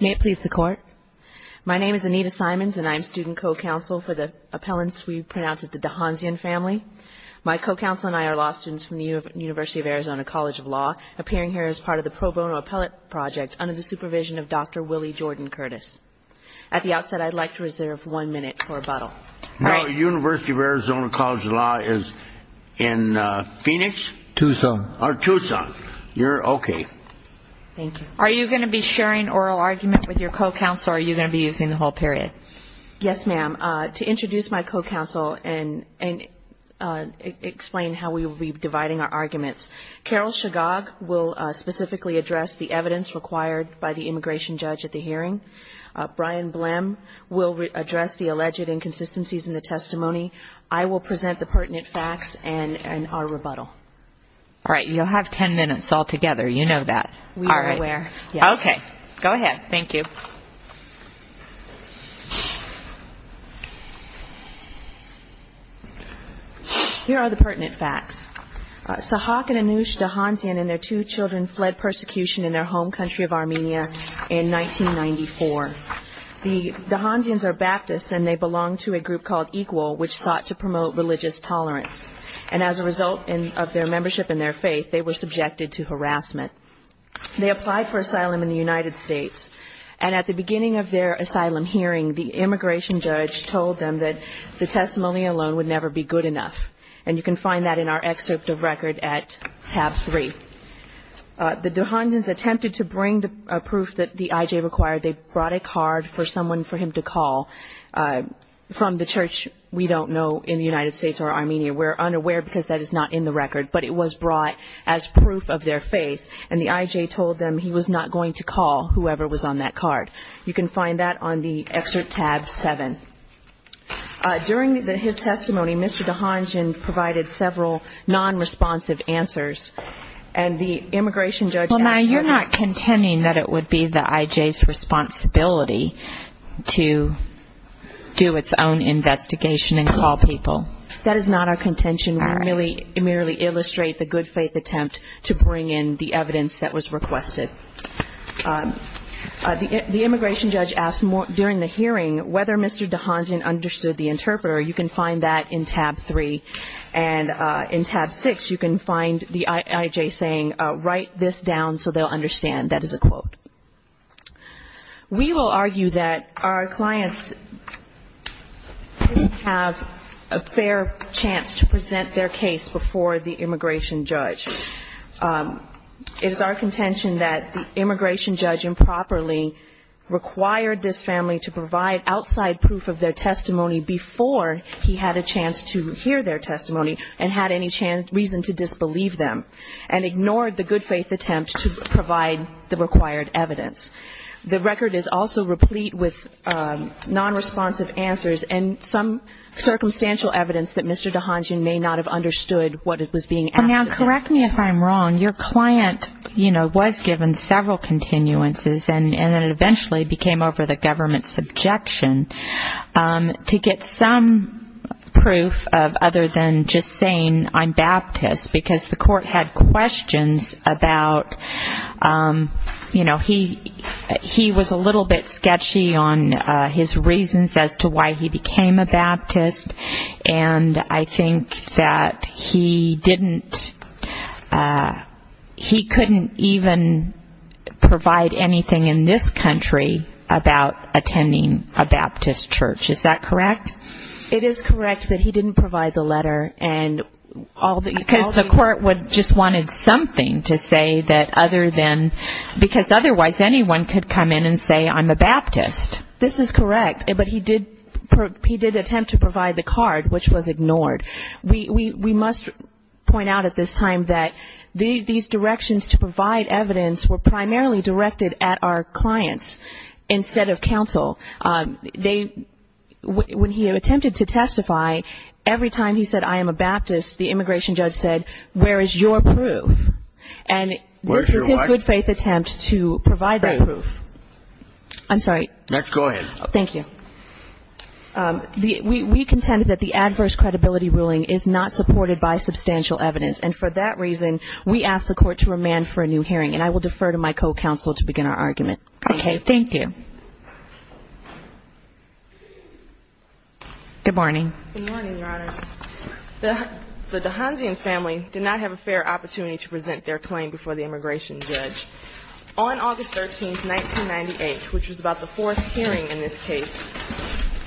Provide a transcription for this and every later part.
May it please the court. My name is Anita Simons and I'm student co-counsel for the appellants we pronounce as the D'Hanshyan family. My co-counsel and I are law students from the University of Arizona College of Law, appearing here as part of the pro bono appellate project under the supervision of Dr. Willie Jordan Curtis. At the outset I'd like to reserve one minute for rebuttal. No, University of Arizona College of Law is in Phoenix? Tucson. Oh, Tucson. You're okay. Thank you. Are you going to be sharing oral argument with your co-counsel or are you going to be using the whole period? Yes, ma'am. To introduce my co-counsel and explain how we will be dividing our arguments, Carol Chagog will specifically address the evidence required by the immigration judge at the hearing. Brian Blem will address the alleged inconsistency in the testimony. I will present the pertinent facts and our rebuttal. All right, you'll have ten minutes all together. You know that. We are aware. Yes. Okay, go ahead. Thank you. Here are the pertinent facts. Sahak and Anush D'Hanshyan and their two children fled persecution in their home country of Armenia in 1994. The D'Hanshyan's are Baptists and they belong to a group of Jewish women. They were a group called Equal, which sought to promote religious tolerance. And as a result of their membership in their faith, they were subjected to harassment. They applied for asylum in the United States. And at the beginning of their asylum hearing, the immigration judge told them that the testimony alone would never be good enough. And you can find that in our excerpt of record at tab three. The D'Hanshyan's attempted to bring the proof that the IJ required. They brought a card for someone for him to call from the church we don't know in the United States or Armenia. We're unaware because that is not in the record. But it was brought as proof of their faith. And the IJ told them he was not going to call whoever was on that card. You can find that on the excerpt tab seven. During his testimony, Mr. D'Hanshyan provided several non-responsive answers. And the immigration judge... That does not mean that it would be the IJ's responsibility to do its own investigation and call people. That is not our contention. We merely illustrate the good faith attempt to bring in the evidence that was requested. The immigration judge asked during the hearing whether Mr. D'Hanshyan understood the interpreter. You can find that in tab three. And in tab six, you can find the IJ saying, write this down so they'll understand. That is a quote. We will argue that our clients didn't have a fair chance to present their case before the immigration judge. It is our contention that the immigration judge improperly required this family to provide outside proof of their testimony before he had a chance to hear their testimony and had any reason to disbelieve them and ignored the good faith attempt to provide the required evidence. The record is also replete with non-responsive answers and some circumstantial evidence that Mr. D'Hanshyan may not have understood what was being asked of him. Now, correct me if I'm wrong. Your client, you know, was given several continuances and then eventually became over the government's objection to get some proof of other than just saying, I don't know, I don't know, I don't know, I don't know, I don't know, I don't know. I'm Baptist, because the court had questions about, you know, he was a little bit sketchy on his reasons as to why he became a Baptist. And I think that he didn't, he couldn't even provide anything in this country about attending a Baptist church. Is that correct? It is correct that he didn't provide the letter and all the... Because the court just wanted something to say that other than, because otherwise anyone could come in and say, I'm a Baptist. This is correct. But he did attempt to provide the card, which was ignored. We must point out at this time that these directions to provide evidence were primarily directed at our clients instead of counsel. They, when he had a chance to hear their testimony and had any reason to testify, every time he said, I am a Baptist, the immigration judge said, where is your proof? And this is his good faith attempt to provide that proof. I'm sorry. We contend that the adverse credibility ruling is not supported by substantial evidence. And for that reason, we ask the court to remand for a new hearing. And I will defer to my co-counsel to begin our argument. Good morning. Good morning, Your Honors. The DeHonzean family did not have a fair opportunity to present their claim before the immigration judge. On August 13, 1998, which was about the fourth hearing in this case,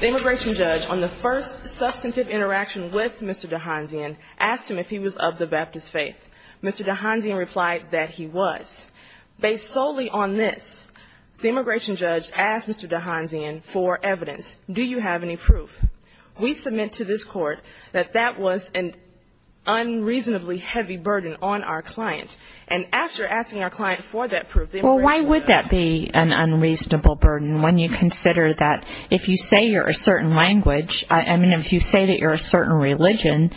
the immigration judge, on the first substantive interaction with Mr. DeHonzean, asked him if he was of the Baptist faith. Mr. DeHonzean replied that he was. Based solely on this, the immigration judge asked Mr. DeHonzean for evidence. Do you have any proof? We submit to this court that that was an unreasonably heavy burden on our client. And after asking our client for that proof, the immigration judge... Well, why would that be an unreasonable burden when you consider that if you say you're a certain language, I mean, if you say that you're a certain religion,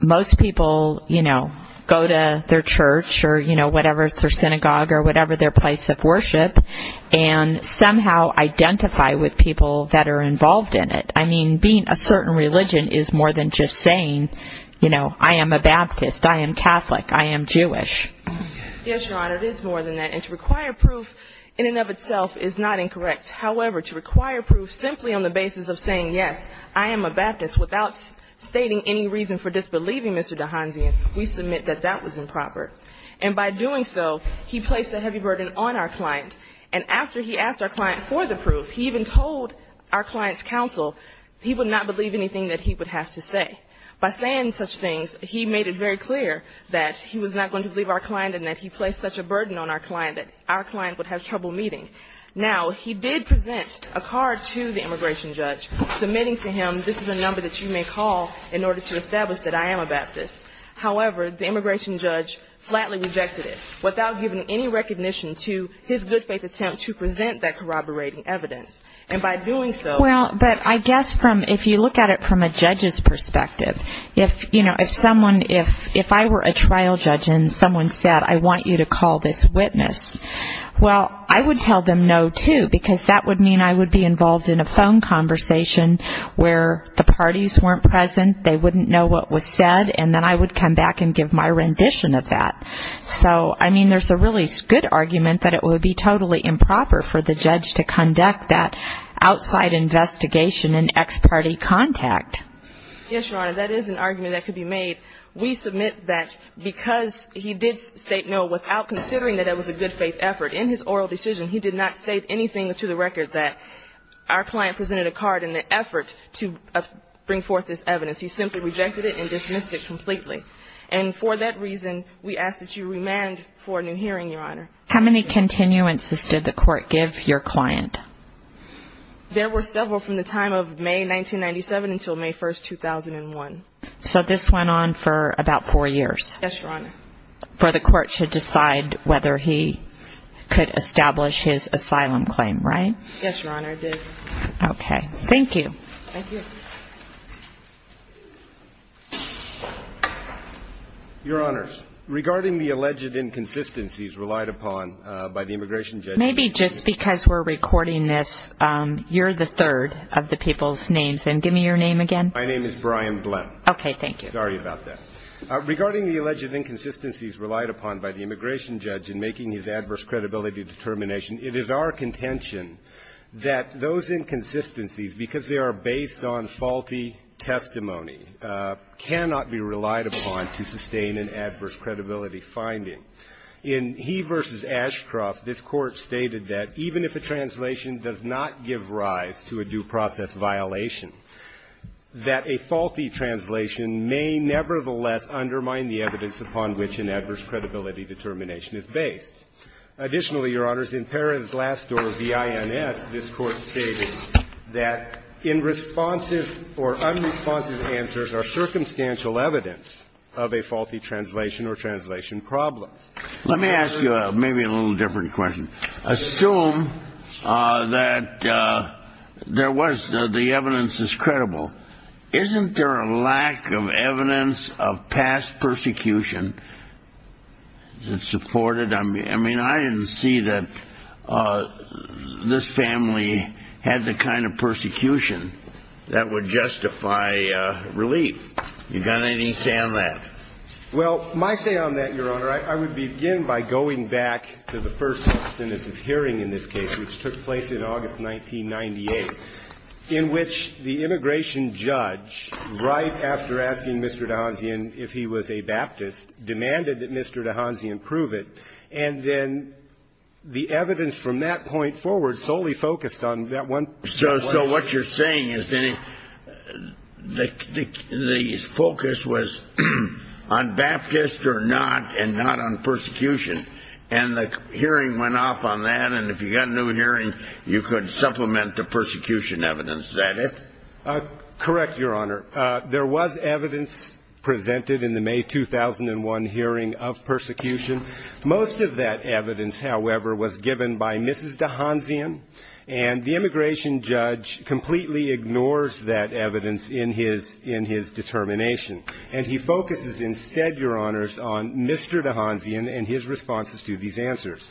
most people, you know, go to their church or, you know, whatever, their synagogue or whatever their place of worship, and somehow identify with people that are involved in it. I mean, being a certain religion is more than just saying, you know, I am a Baptist, I am Catholic, I am Jewish. Yes, Your Honor, it is more than that. And to require proof in and of itself is not incorrect. However, to require proof simply on the basis of saying, yes, I am a Baptist, without stating any reason for disbelieving Mr. DeHonzean, we submit that that was improper. And by doing so, he placed a heavy burden on our client. And after he asked our client for the proof, he even told our client's counsel he would not believe anything that he would have to say. By saying such things, he made it very clear that he was not going to believe our client and that he placed such a burden on our client that our client would have trouble meeting. Now, he did present a card to the immigration judge submitting to him, this is a number that you may call in order to establish that I am a Baptist, without giving any recognition to his good faith attempt to present that corroborating evidence. And by doing so... Well, but I guess from, if you look at it from a judge's perspective, if, you know, if someone, if I were a trial judge and someone said, I want you to call this witness, well, I would tell them no, too, because that would mean I would be involved in a phone conversation where the parties weren't present, they wouldn't know what was said, and then I would come back and give my rendition of that. So, I mean, there's a really good argument that it would be totally improper for the judge to conduct that outside investigation and ex-party contact. Yes, Your Honor, that is an argument that could be made. We submit that because he did state no without considering that it was a good faith effort, in his oral decision, he did not state anything to the record that our client presented a card in an effort to bring forth this evidence, and we ask that you remand for a new hearing, Your Honor. How many continuances did the court give your client? There were several from the time of May 1997 until May 1, 2001. So this went on for about four years? Yes, Your Honor. And you did not have a hearing for the court to decide whether he could establish his asylum claim, right? Yes, Your Honor, I did. Okay. Thank you. Your Honors, regarding the alleged inconsistencies relied upon by the immigration judge... Maybe just because we're recording this, you're the third of the people's names, then give me your name again. My name is Brian Blum. Okay. Thank you. Sorry about that. Regarding the alleged inconsistencies relied upon by the immigration judge in making his adverse credibility determination, it is our contention that those inconsistencies, because they are based on faulty testimony, cannot be relied upon to sustain an adverse credibility finding. In He v. Ashcroft, this Court stated that even if a translation does not give rise to a due process violation, that the evidence is credible, that a faulty translation may nevertheless undermine the evidence upon which an adverse credibility determination is based. Additionally, Your Honors, in Perrin's last door, V.I.N.S., this Court stated that inresponsive or unresponsive answers are circumstantial evidence of a faulty translation or translation problem. Let me ask you maybe a little different question. Assume that there was the evidence is credible. Isn't there a lack of evidence of past persecution that supported? I mean, I didn't see that this family had the kind of persecution that would justify relief. You got any say on that? Well, my say on that, Your Honor, I would begin by going back to the first instance of hearing in this case, which took place in August 1998, in which the immigration judge right after asking Mr. DeHanzean if he was a Baptist, demanded that Mr. DeHanzean prove it. And then the evidence from that point forward solely focused on that one point. So what you're saying is that the focus was on Baptist or not, and not on persecution. And the hearing went off on that, and if you got a new hearing, you could supplement the persecution evidence. Is that it? Correct, Your Honor. There was evidence presented in the May 2001 hearing of persecution. Most of that evidence, however, was given by Mrs. DeHanzean, and the immigration judge completely ignores that evidence in his determination. And he focuses instead, Your Honors, on Mr. DeHanzean and his responses to these answers.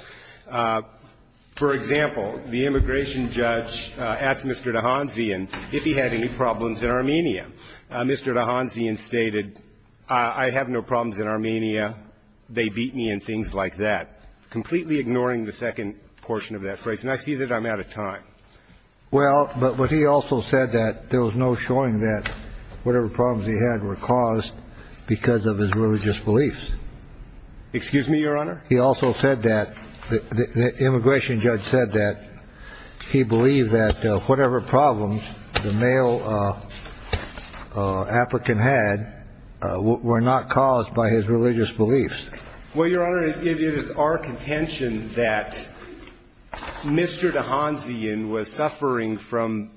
For example, the immigration judge asked Mr. DeHanzean if he had any problems in Armenia. Mr. DeHanzean stated, I have no problems in Armenia, they beat me, and things like that, completely ignoring the second portion of that phrase. And I see that I'm out of time. Well, but he also said that there was no showing that whatever problems he had were caused because of his religious beliefs. Excuse me, Your Honor? He also said that, the immigration judge said that he believed that whatever problems the male applicant had were not caused by his religious beliefs. Well, Your Honor, it is our contention that Mr. DeHanzean was suffering from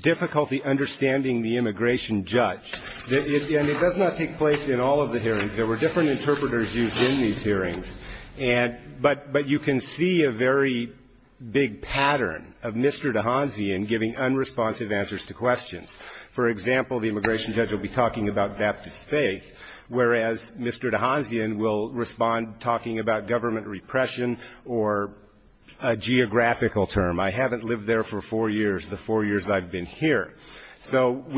difficulty understanding the immigration judge. And it does not take place in all of the hearings. There were different interpreters used in these hearings, but you can see a very big pattern of Mr. DeHanzean giving unresponsive answers to questions. For example, the immigration judge will be talking about Baptist faith, whereas Mr. DeHanzean will respond talking about government repression or a geographical term. I haven't lived there for four years, the four years I've been here. But for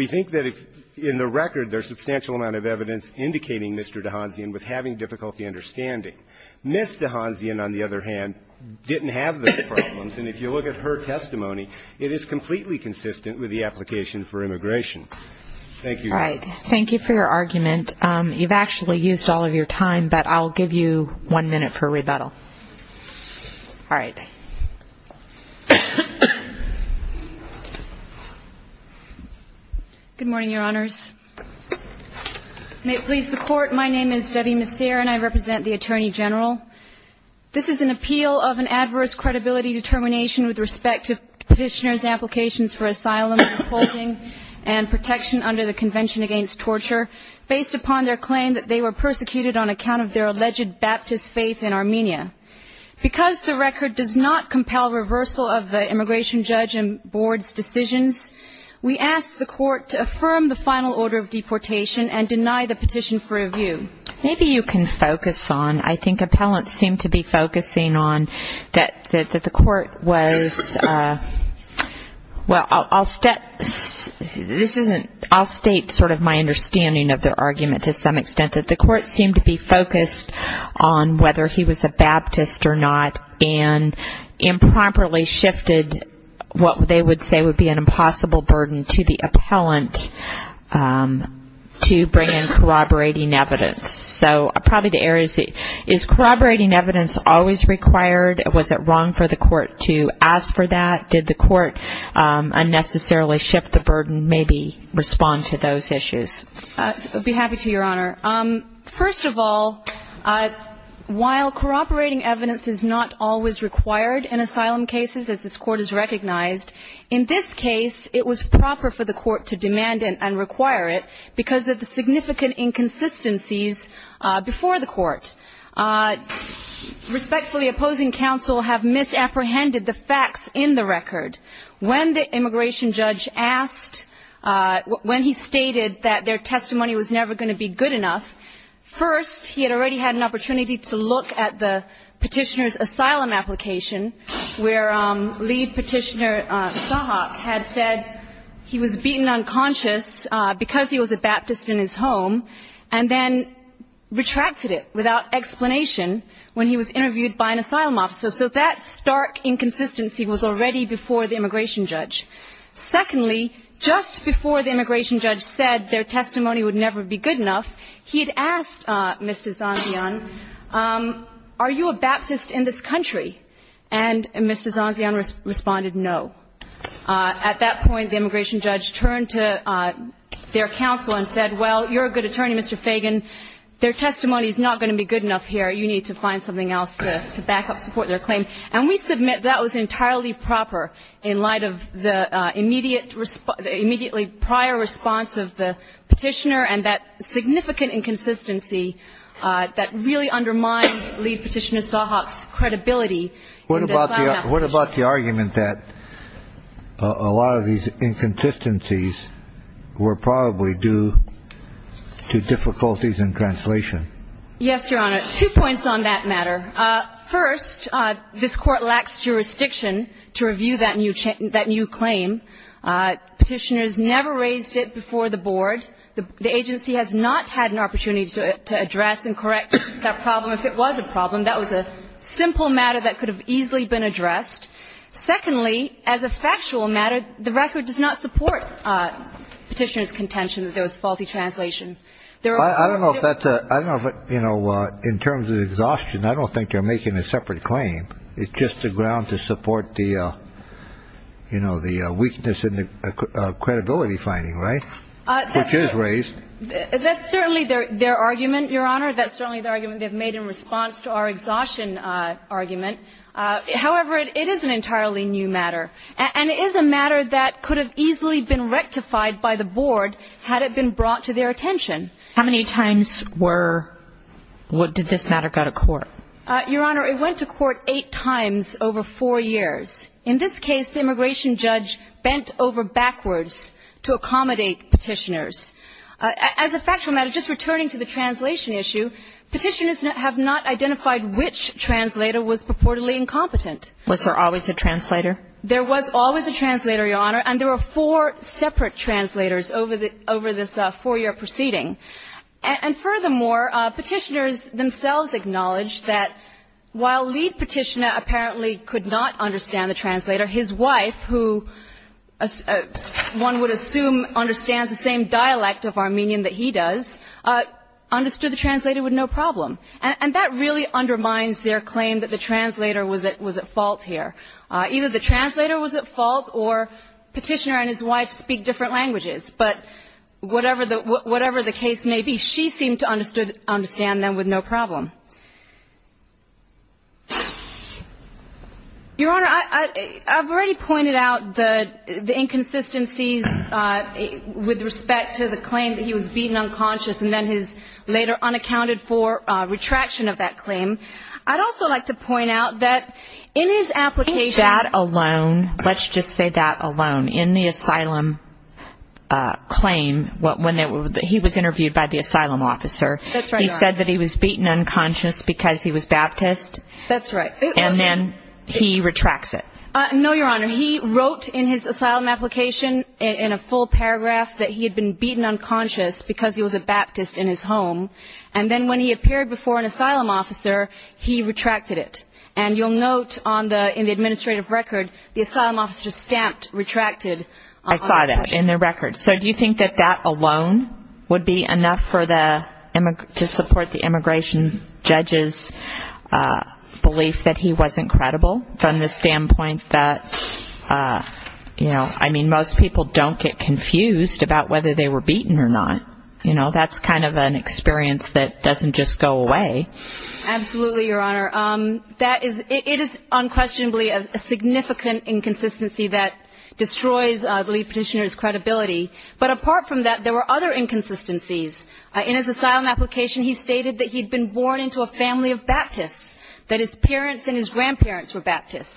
the record, there's substantial amount of evidence indicating Mr. DeHanzean was having difficulty understanding. Ms. DeHanzean, on the other hand, didn't have those problems, and if you look at her testimony, it is completely consistent with the application for immigration. Thank you, Your Honor. All right. Thank you for your argument. You've actually used all of your time, but I'll give you one minute for rebuttal. All right. Good morning, Your Honors. May it please the Court. My name is Debbie Messier, and I represent the Attorney General. This is an appeal of an adverse credibility determination with respect to Petitioner's applications for asylum, holding and protection under the Convention Against Torture, based upon their claim that they were persecuted on account of their alleged Baptist faith in Armenia. Because the record does not compel reversal of the immigration judge and board's decisions, we ask the Court to affirm the final order of deportation and deny the petition for review. Maybe you can focus on, I think appellants seem to be focusing on, that the Court was, well, I'll state sort of my understanding of their argument to some extent, that the Court seemed to be focused on whether he was a Baptist or not. And improperly shifted what they would say would be an impossible burden to the appellant to bring in corroborating evidence. So probably the area is, is corroborating evidence always required? Was it wrong for the Court to ask for that? Did the Court unnecessarily shift the burden, maybe respond to those issues? I'll be happy to, Your Honor. First of all, while corroborating evidence is not always required in asylum cases, as this Court has recognized, in this case it was proper for the Court to demand and require it, because of the significant inconsistencies before the Court. Respectfully opposing counsel have misapprehended the facts in the record. When the immigration judge asked, when he stated that there is no evidence of corruption in the record, the Court said that there is. And that their testimony was never going to be good enough. First, he had already had an opportunity to look at the petitioner's asylum application, where lead petitioner Sahak had said he was beaten unconscious because he was a Baptist in his home, and then retracted it without explanation when he was interviewed by an asylum officer. So that stark inconsistency was already before the immigration judge. Secondly, just before the immigration judge said their testimony was never going to be good enough, the Court said that there is no evidence of corruption in the record. And that their testimony was never going to be good enough, he had asked Mr. Zanzian, are you a Baptist in this country? And Mr. Zanzian responded, no. At that point, the immigration judge turned to their counsel and said, well, you're a good attorney, Mr. Fagan, their testimony is not going to be good enough here, you need to find something else to back up, support their claim. And we submit that was entirely proper in light of the immediate response, the immediately prior response of the petitioner, and the fact that the immigration judge said that there is no evidence of corruption in the record. And that the petitioner and that significant inconsistency that really undermined lead petitioner Sahak's credibility in this line of questioning. What about the argument that a lot of these inconsistencies were probably due to difficulties in translation? Yes, Your Honor. Two points on that matter. First, this Court lacks jurisdiction to review that new claim. Petitioners never raised it before the Board. The Board has never raised it before the Court. The agency has not had an opportunity to address and correct that problem. If it was a problem, that was a simple matter that could have easily been addressed. Secondly, as a factual matter, the record does not support petitioner's contention that there was faulty translation. I don't know if that's a, I don't know if, you know, in terms of exhaustion, I don't think they're making a separate claim. It's just a ground to support the, you know, the weakness in the credibility finding, right? Which is raised. That's certainly their argument, Your Honor. That's certainly the argument they've made in response to our exhaustion argument. However, it is an entirely new matter. And it is a matter that could have easily been rectified by the Board had it been brought to their attention. How many times were, did this matter go to court? Your Honor, it went to court eight times over four years. In this case, the immigration judge bent over backwards to accommodate Petitioner's claim. As a factual matter, just returning to the translation issue, Petitioners have not identified which translator was purportedly incompetent. Was there always a translator? There was always a translator, Your Honor, and there were four separate translators over this four-year proceeding. And furthermore, Petitioners themselves acknowledged that while Lead Petitioner apparently could not understand the translator, his wife, who one would assume understands a little better than Petitioner, was the only translator. And that really undermines their claim that the translator was at fault here. Either the translator was at fault, or Petitioner and his wife speak different languages. But whatever the case may be, she seemed to understand them with no problem. Your Honor, I've already pointed out the inconsistencies with respect to the claim that he was beaten unconscious and then his later unaccounted for retraction of that claim. I'd also like to point out that in his application... In that alone, let's just say that alone, in the asylum claim, when he was interviewed by the asylum officer, he said that he was beaten unconscious and then his later unaccounted for retraction of that claim. He was beaten unconscious because he was Baptist, and then he retracts it. No, Your Honor. He wrote in his asylum application, in a full paragraph, that he had been beaten unconscious because he was a Baptist in his home, and then when he appeared before an asylum officer, he retracted it. And you'll note in the administrative record, the asylum officer stamped retracted. I saw that in the record. So do you think that that alone would be enough to support the immigration judge's belief that he wasn't credible, from the standpoint that, you know, I mean, most people don't get confused about whether they were beaten or not. You know, that's kind of an experience that doesn't just go away. Absolutely, Your Honor. That is, it is unquestionably a significant inconsistency that destroys the integrity of the claim that he was beaten unconscious and then his later unaccounted for retraction of that claim. I don't believe petitioner's credibility. But apart from that, there were other inconsistencies. In his asylum application, he stated that he'd been born into a family of Baptists, that his parents and his grandparents were Baptists.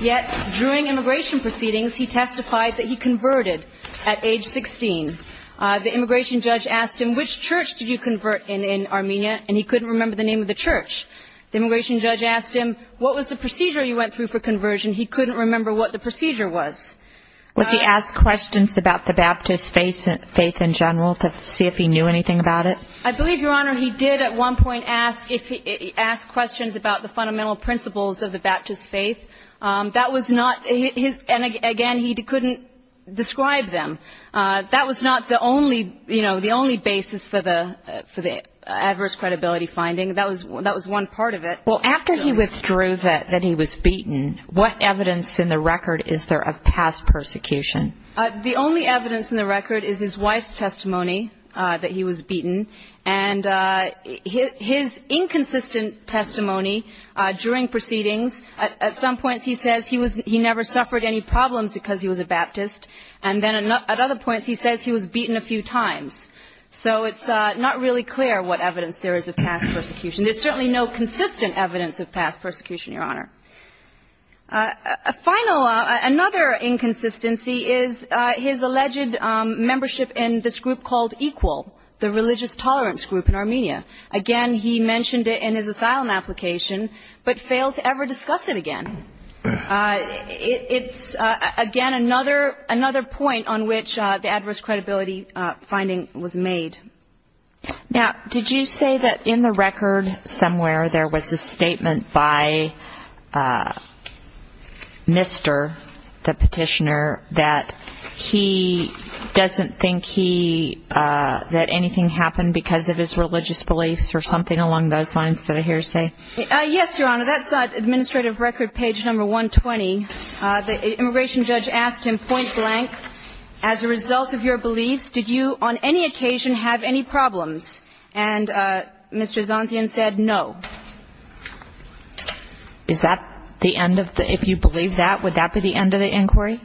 Yet, during immigration proceedings, he testifies that he converted at age 16. The immigration judge asked him, which church did you convert in in Armenia? And he couldn't remember the name of the church. The immigration judge asked him, what was the procedure you went through for conversion? He couldn't remember what the procedure was. Was he asked questions about the Baptist faith in general to see if he knew anything about it? I believe, Your Honor, he did at one point ask questions about the fundamental principles of the Baptist faith. That was not his, and again, he couldn't describe them. That was not the only, you know, the only basis for the adverse credibility finding. That was one part of it. Well, after he withdrew that he was beaten, what evidence in the record is there of past persecution? The only evidence in the record is his wife's testimony that he was beaten. And his inconsistent testimony during proceedings, at some points he says he never suffered any problems because he was a Baptist. And then at other points he says he was beaten a few times. So it's not really clear what evidence there is of past persecution. There's certainly no consistent evidence of past persecution, Your Honor. A final, another inconsistency is his alleged membership in this group called EQUAL, the religious tolerance group in Armenia. Again, he mentioned it in his asylum application, but failed to ever discuss it again. It's, again, another point on which the adverse credibility finding was made. Now, did you say that in the record somewhere there was a statement by Mr. the petitioner that he doesn't think he, that anything happened because of his religious beliefs or something along those lines that I hear you say? Yes, Your Honor. That's on Administrative Record page number 120. The immigration judge asked him point blank, as a result of your beliefs, did you on any occasion have any religious beliefs? Did you have any problems? And Mr. Zantian said, no. Is that the end of the, if you believe that, would that be the end of the inquiry?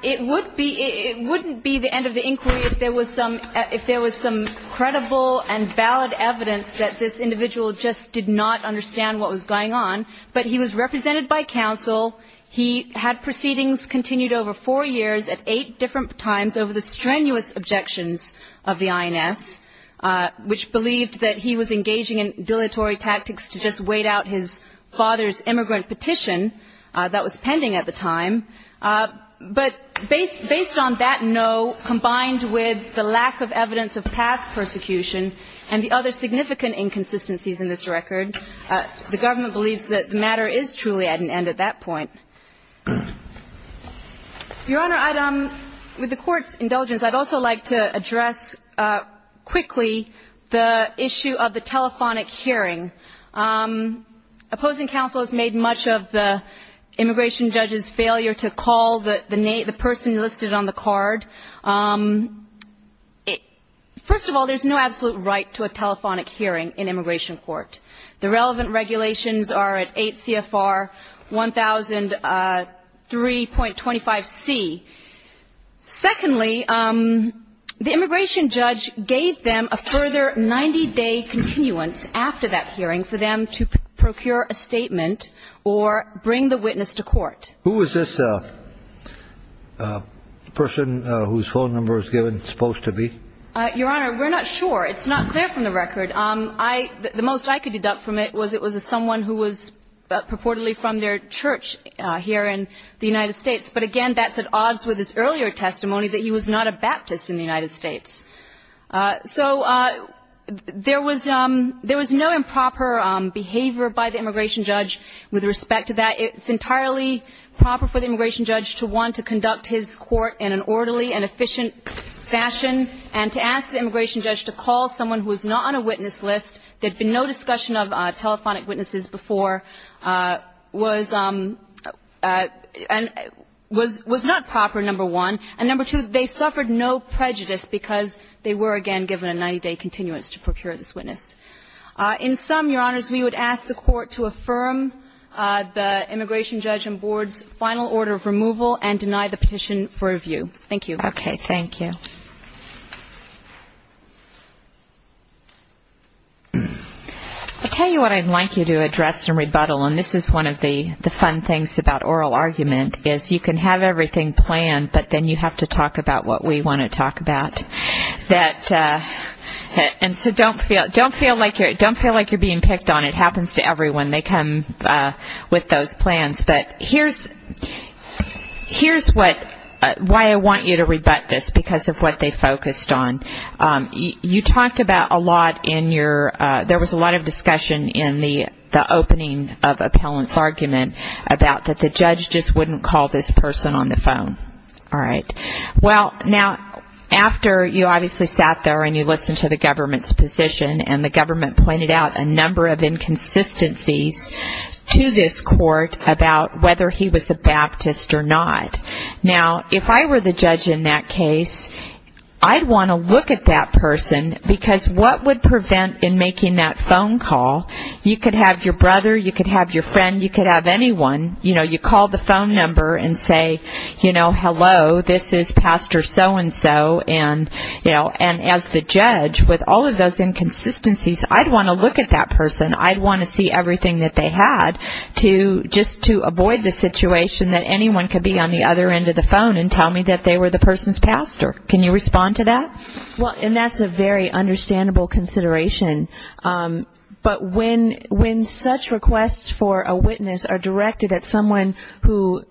It would be, it wouldn't be the end of the inquiry if there was some, if there was some credible and valid evidence that this individual just did not understand what was going on. But he was represented by counsel. He had proceedings continued over four years at eight different times over the strenuous objections of the on-call. And he was also represented by counsel in the case of the 9S, which believed that he was engaging in dilatory tactics to just wait out his father's immigrant petition that was pending at the time. But based on that no, combined with the lack of evidence of past persecution and the other significant inconsistencies in this record, the government believes that the matter is truly at an end at that point. Your Honor, I'd, with the Court's indulgence, I'd also like to address quickly the issue of the telephonic hearing. Opposing counsel has made much of the immigration judge's failure to call the name, the person listed on the card. First of all, there's no absolute right to a telephonic hearing in immigration court. The relevant regulations are at 8 CFR 1000. First of all, the relevant regulations are at 8 CFR 1000, and 3.25C. Secondly, the immigration judge gave them a further 90-day continuance after that hearing for them to procure a statement or bring the witness to court. Who is this person whose phone number is given, supposed to be? Your Honor, we're not sure. It's not clear from the record. The most I could deduct from it was it was someone who was purportedly from their church here in the United States. But again, that's at odds with his earlier testimony that he was not a Baptist in the United States. So there was no improper behavior by the immigration judge with respect to that. It's entirely proper for the immigration judge to want to conduct his court in an orderly and efficient fashion, and to ask the immigration judge to call someone who was not on a witness list. There had been no discussion of telephonic witnesses before, was not proper, number one. And number two, they suffered no prejudice because they were, again, given a 90-day continuance to procure this witness. In sum, Your Honors, we would ask the Court to affirm the immigration judge and board's final order of removal and deny the petition for review. Thank you. Okay. Thank you. I'll tell you what I'd like you to address in rebuttal, and this is one of the fun things about oral argument, is you can have everything planned, but then you have to talk about what we want to talk about. And so don't feel like you're being picked on. It happens to everyone. They come with those plans. But here's why I want you to rebut this, because of what they focused on. You talked about a lot in your, there was a lot of discussion in the opening of appellant's argument about that the judge just wouldn't call this person on the phone. All right. Well, now, after you obviously sat there and you listened to the government's position, and the government pointed out a number of inconsistencies to this court about whether he was a Baptist or not. Now, if I were the judge in that case, I'd want to look at that person, because what would prevent in making that phone call, you could have your brother, you could have your friend, you could have anyone, you know, hello, this is pastor so-and-so, and as the judge, with all of those inconsistencies, I'd want to look at that person. I'd want to see everything that they had, just to avoid the situation that anyone could be on the other end of the phone and tell me that they were the person's pastor. Can you respond to that? Well, and that's a very understandable consideration. But when such requests for a witness are directed at someone who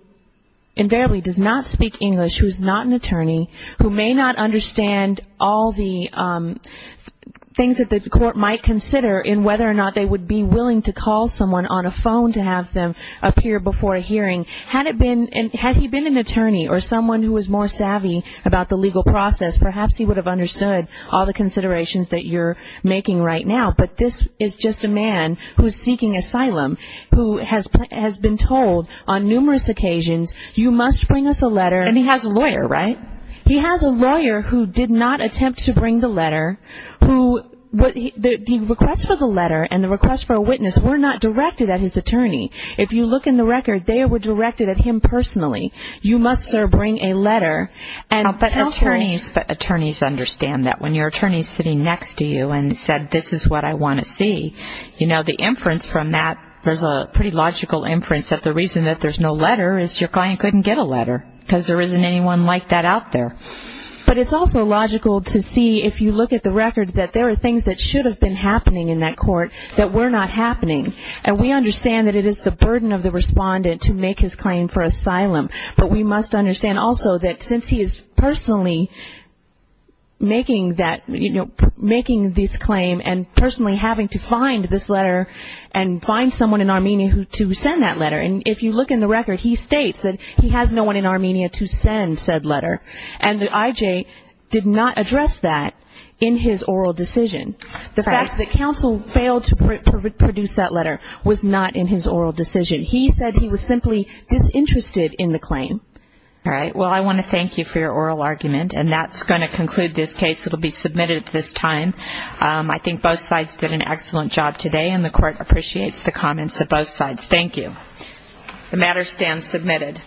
invariably does not speak English, who is not an attorney, who may not understand all the things that the court might consider in whether or not they would be willing to call someone on a phone to have them appear before a hearing, had he been an attorney or someone who was more savvy about the legal process, perhaps he would have understood all the considerations that you're making right now. But this is just a man who is seeking asylum, who has been told on numerous occasions, you must bring us a letter. And he has a lawyer, right? He has a lawyer who did not attempt to bring the letter. The request for the letter and the request for a witness were not directed at his attorney. If you look in the record, they were directed at him personally. You must, sir, bring a letter. But attorneys understand that. When your attorney is sitting next to you and said, this is what I want to see, you know, the inference from that, there's a pretty logical inference that the reason that there's no letter is your client couldn't get a letter because there isn't anyone like that out there. But it's also logical to see, if you look at the record, that there are things that should have been happening in that court that were not happening. And we understand that it is the burden of the respondent to make his claim for asylum. But we must understand also that since he is personally making that, you know, making this claim and personally having to find this letter and find someone in Armenia to send that letter. And if you look in the record, he states that he has no one in Armenia to send said letter. And the IJ did not address that in his oral decision. The fact that counsel failed to produce that letter was not in his oral decision. He said he was simply disinterested in the claim. All right. Well, I want to thank you for your oral argument, and that's going to conclude this case. It will be submitted at this time. I think both sides did an excellent job today, and the court appreciates the comments of both sides. Thank you. The matter stands submitted.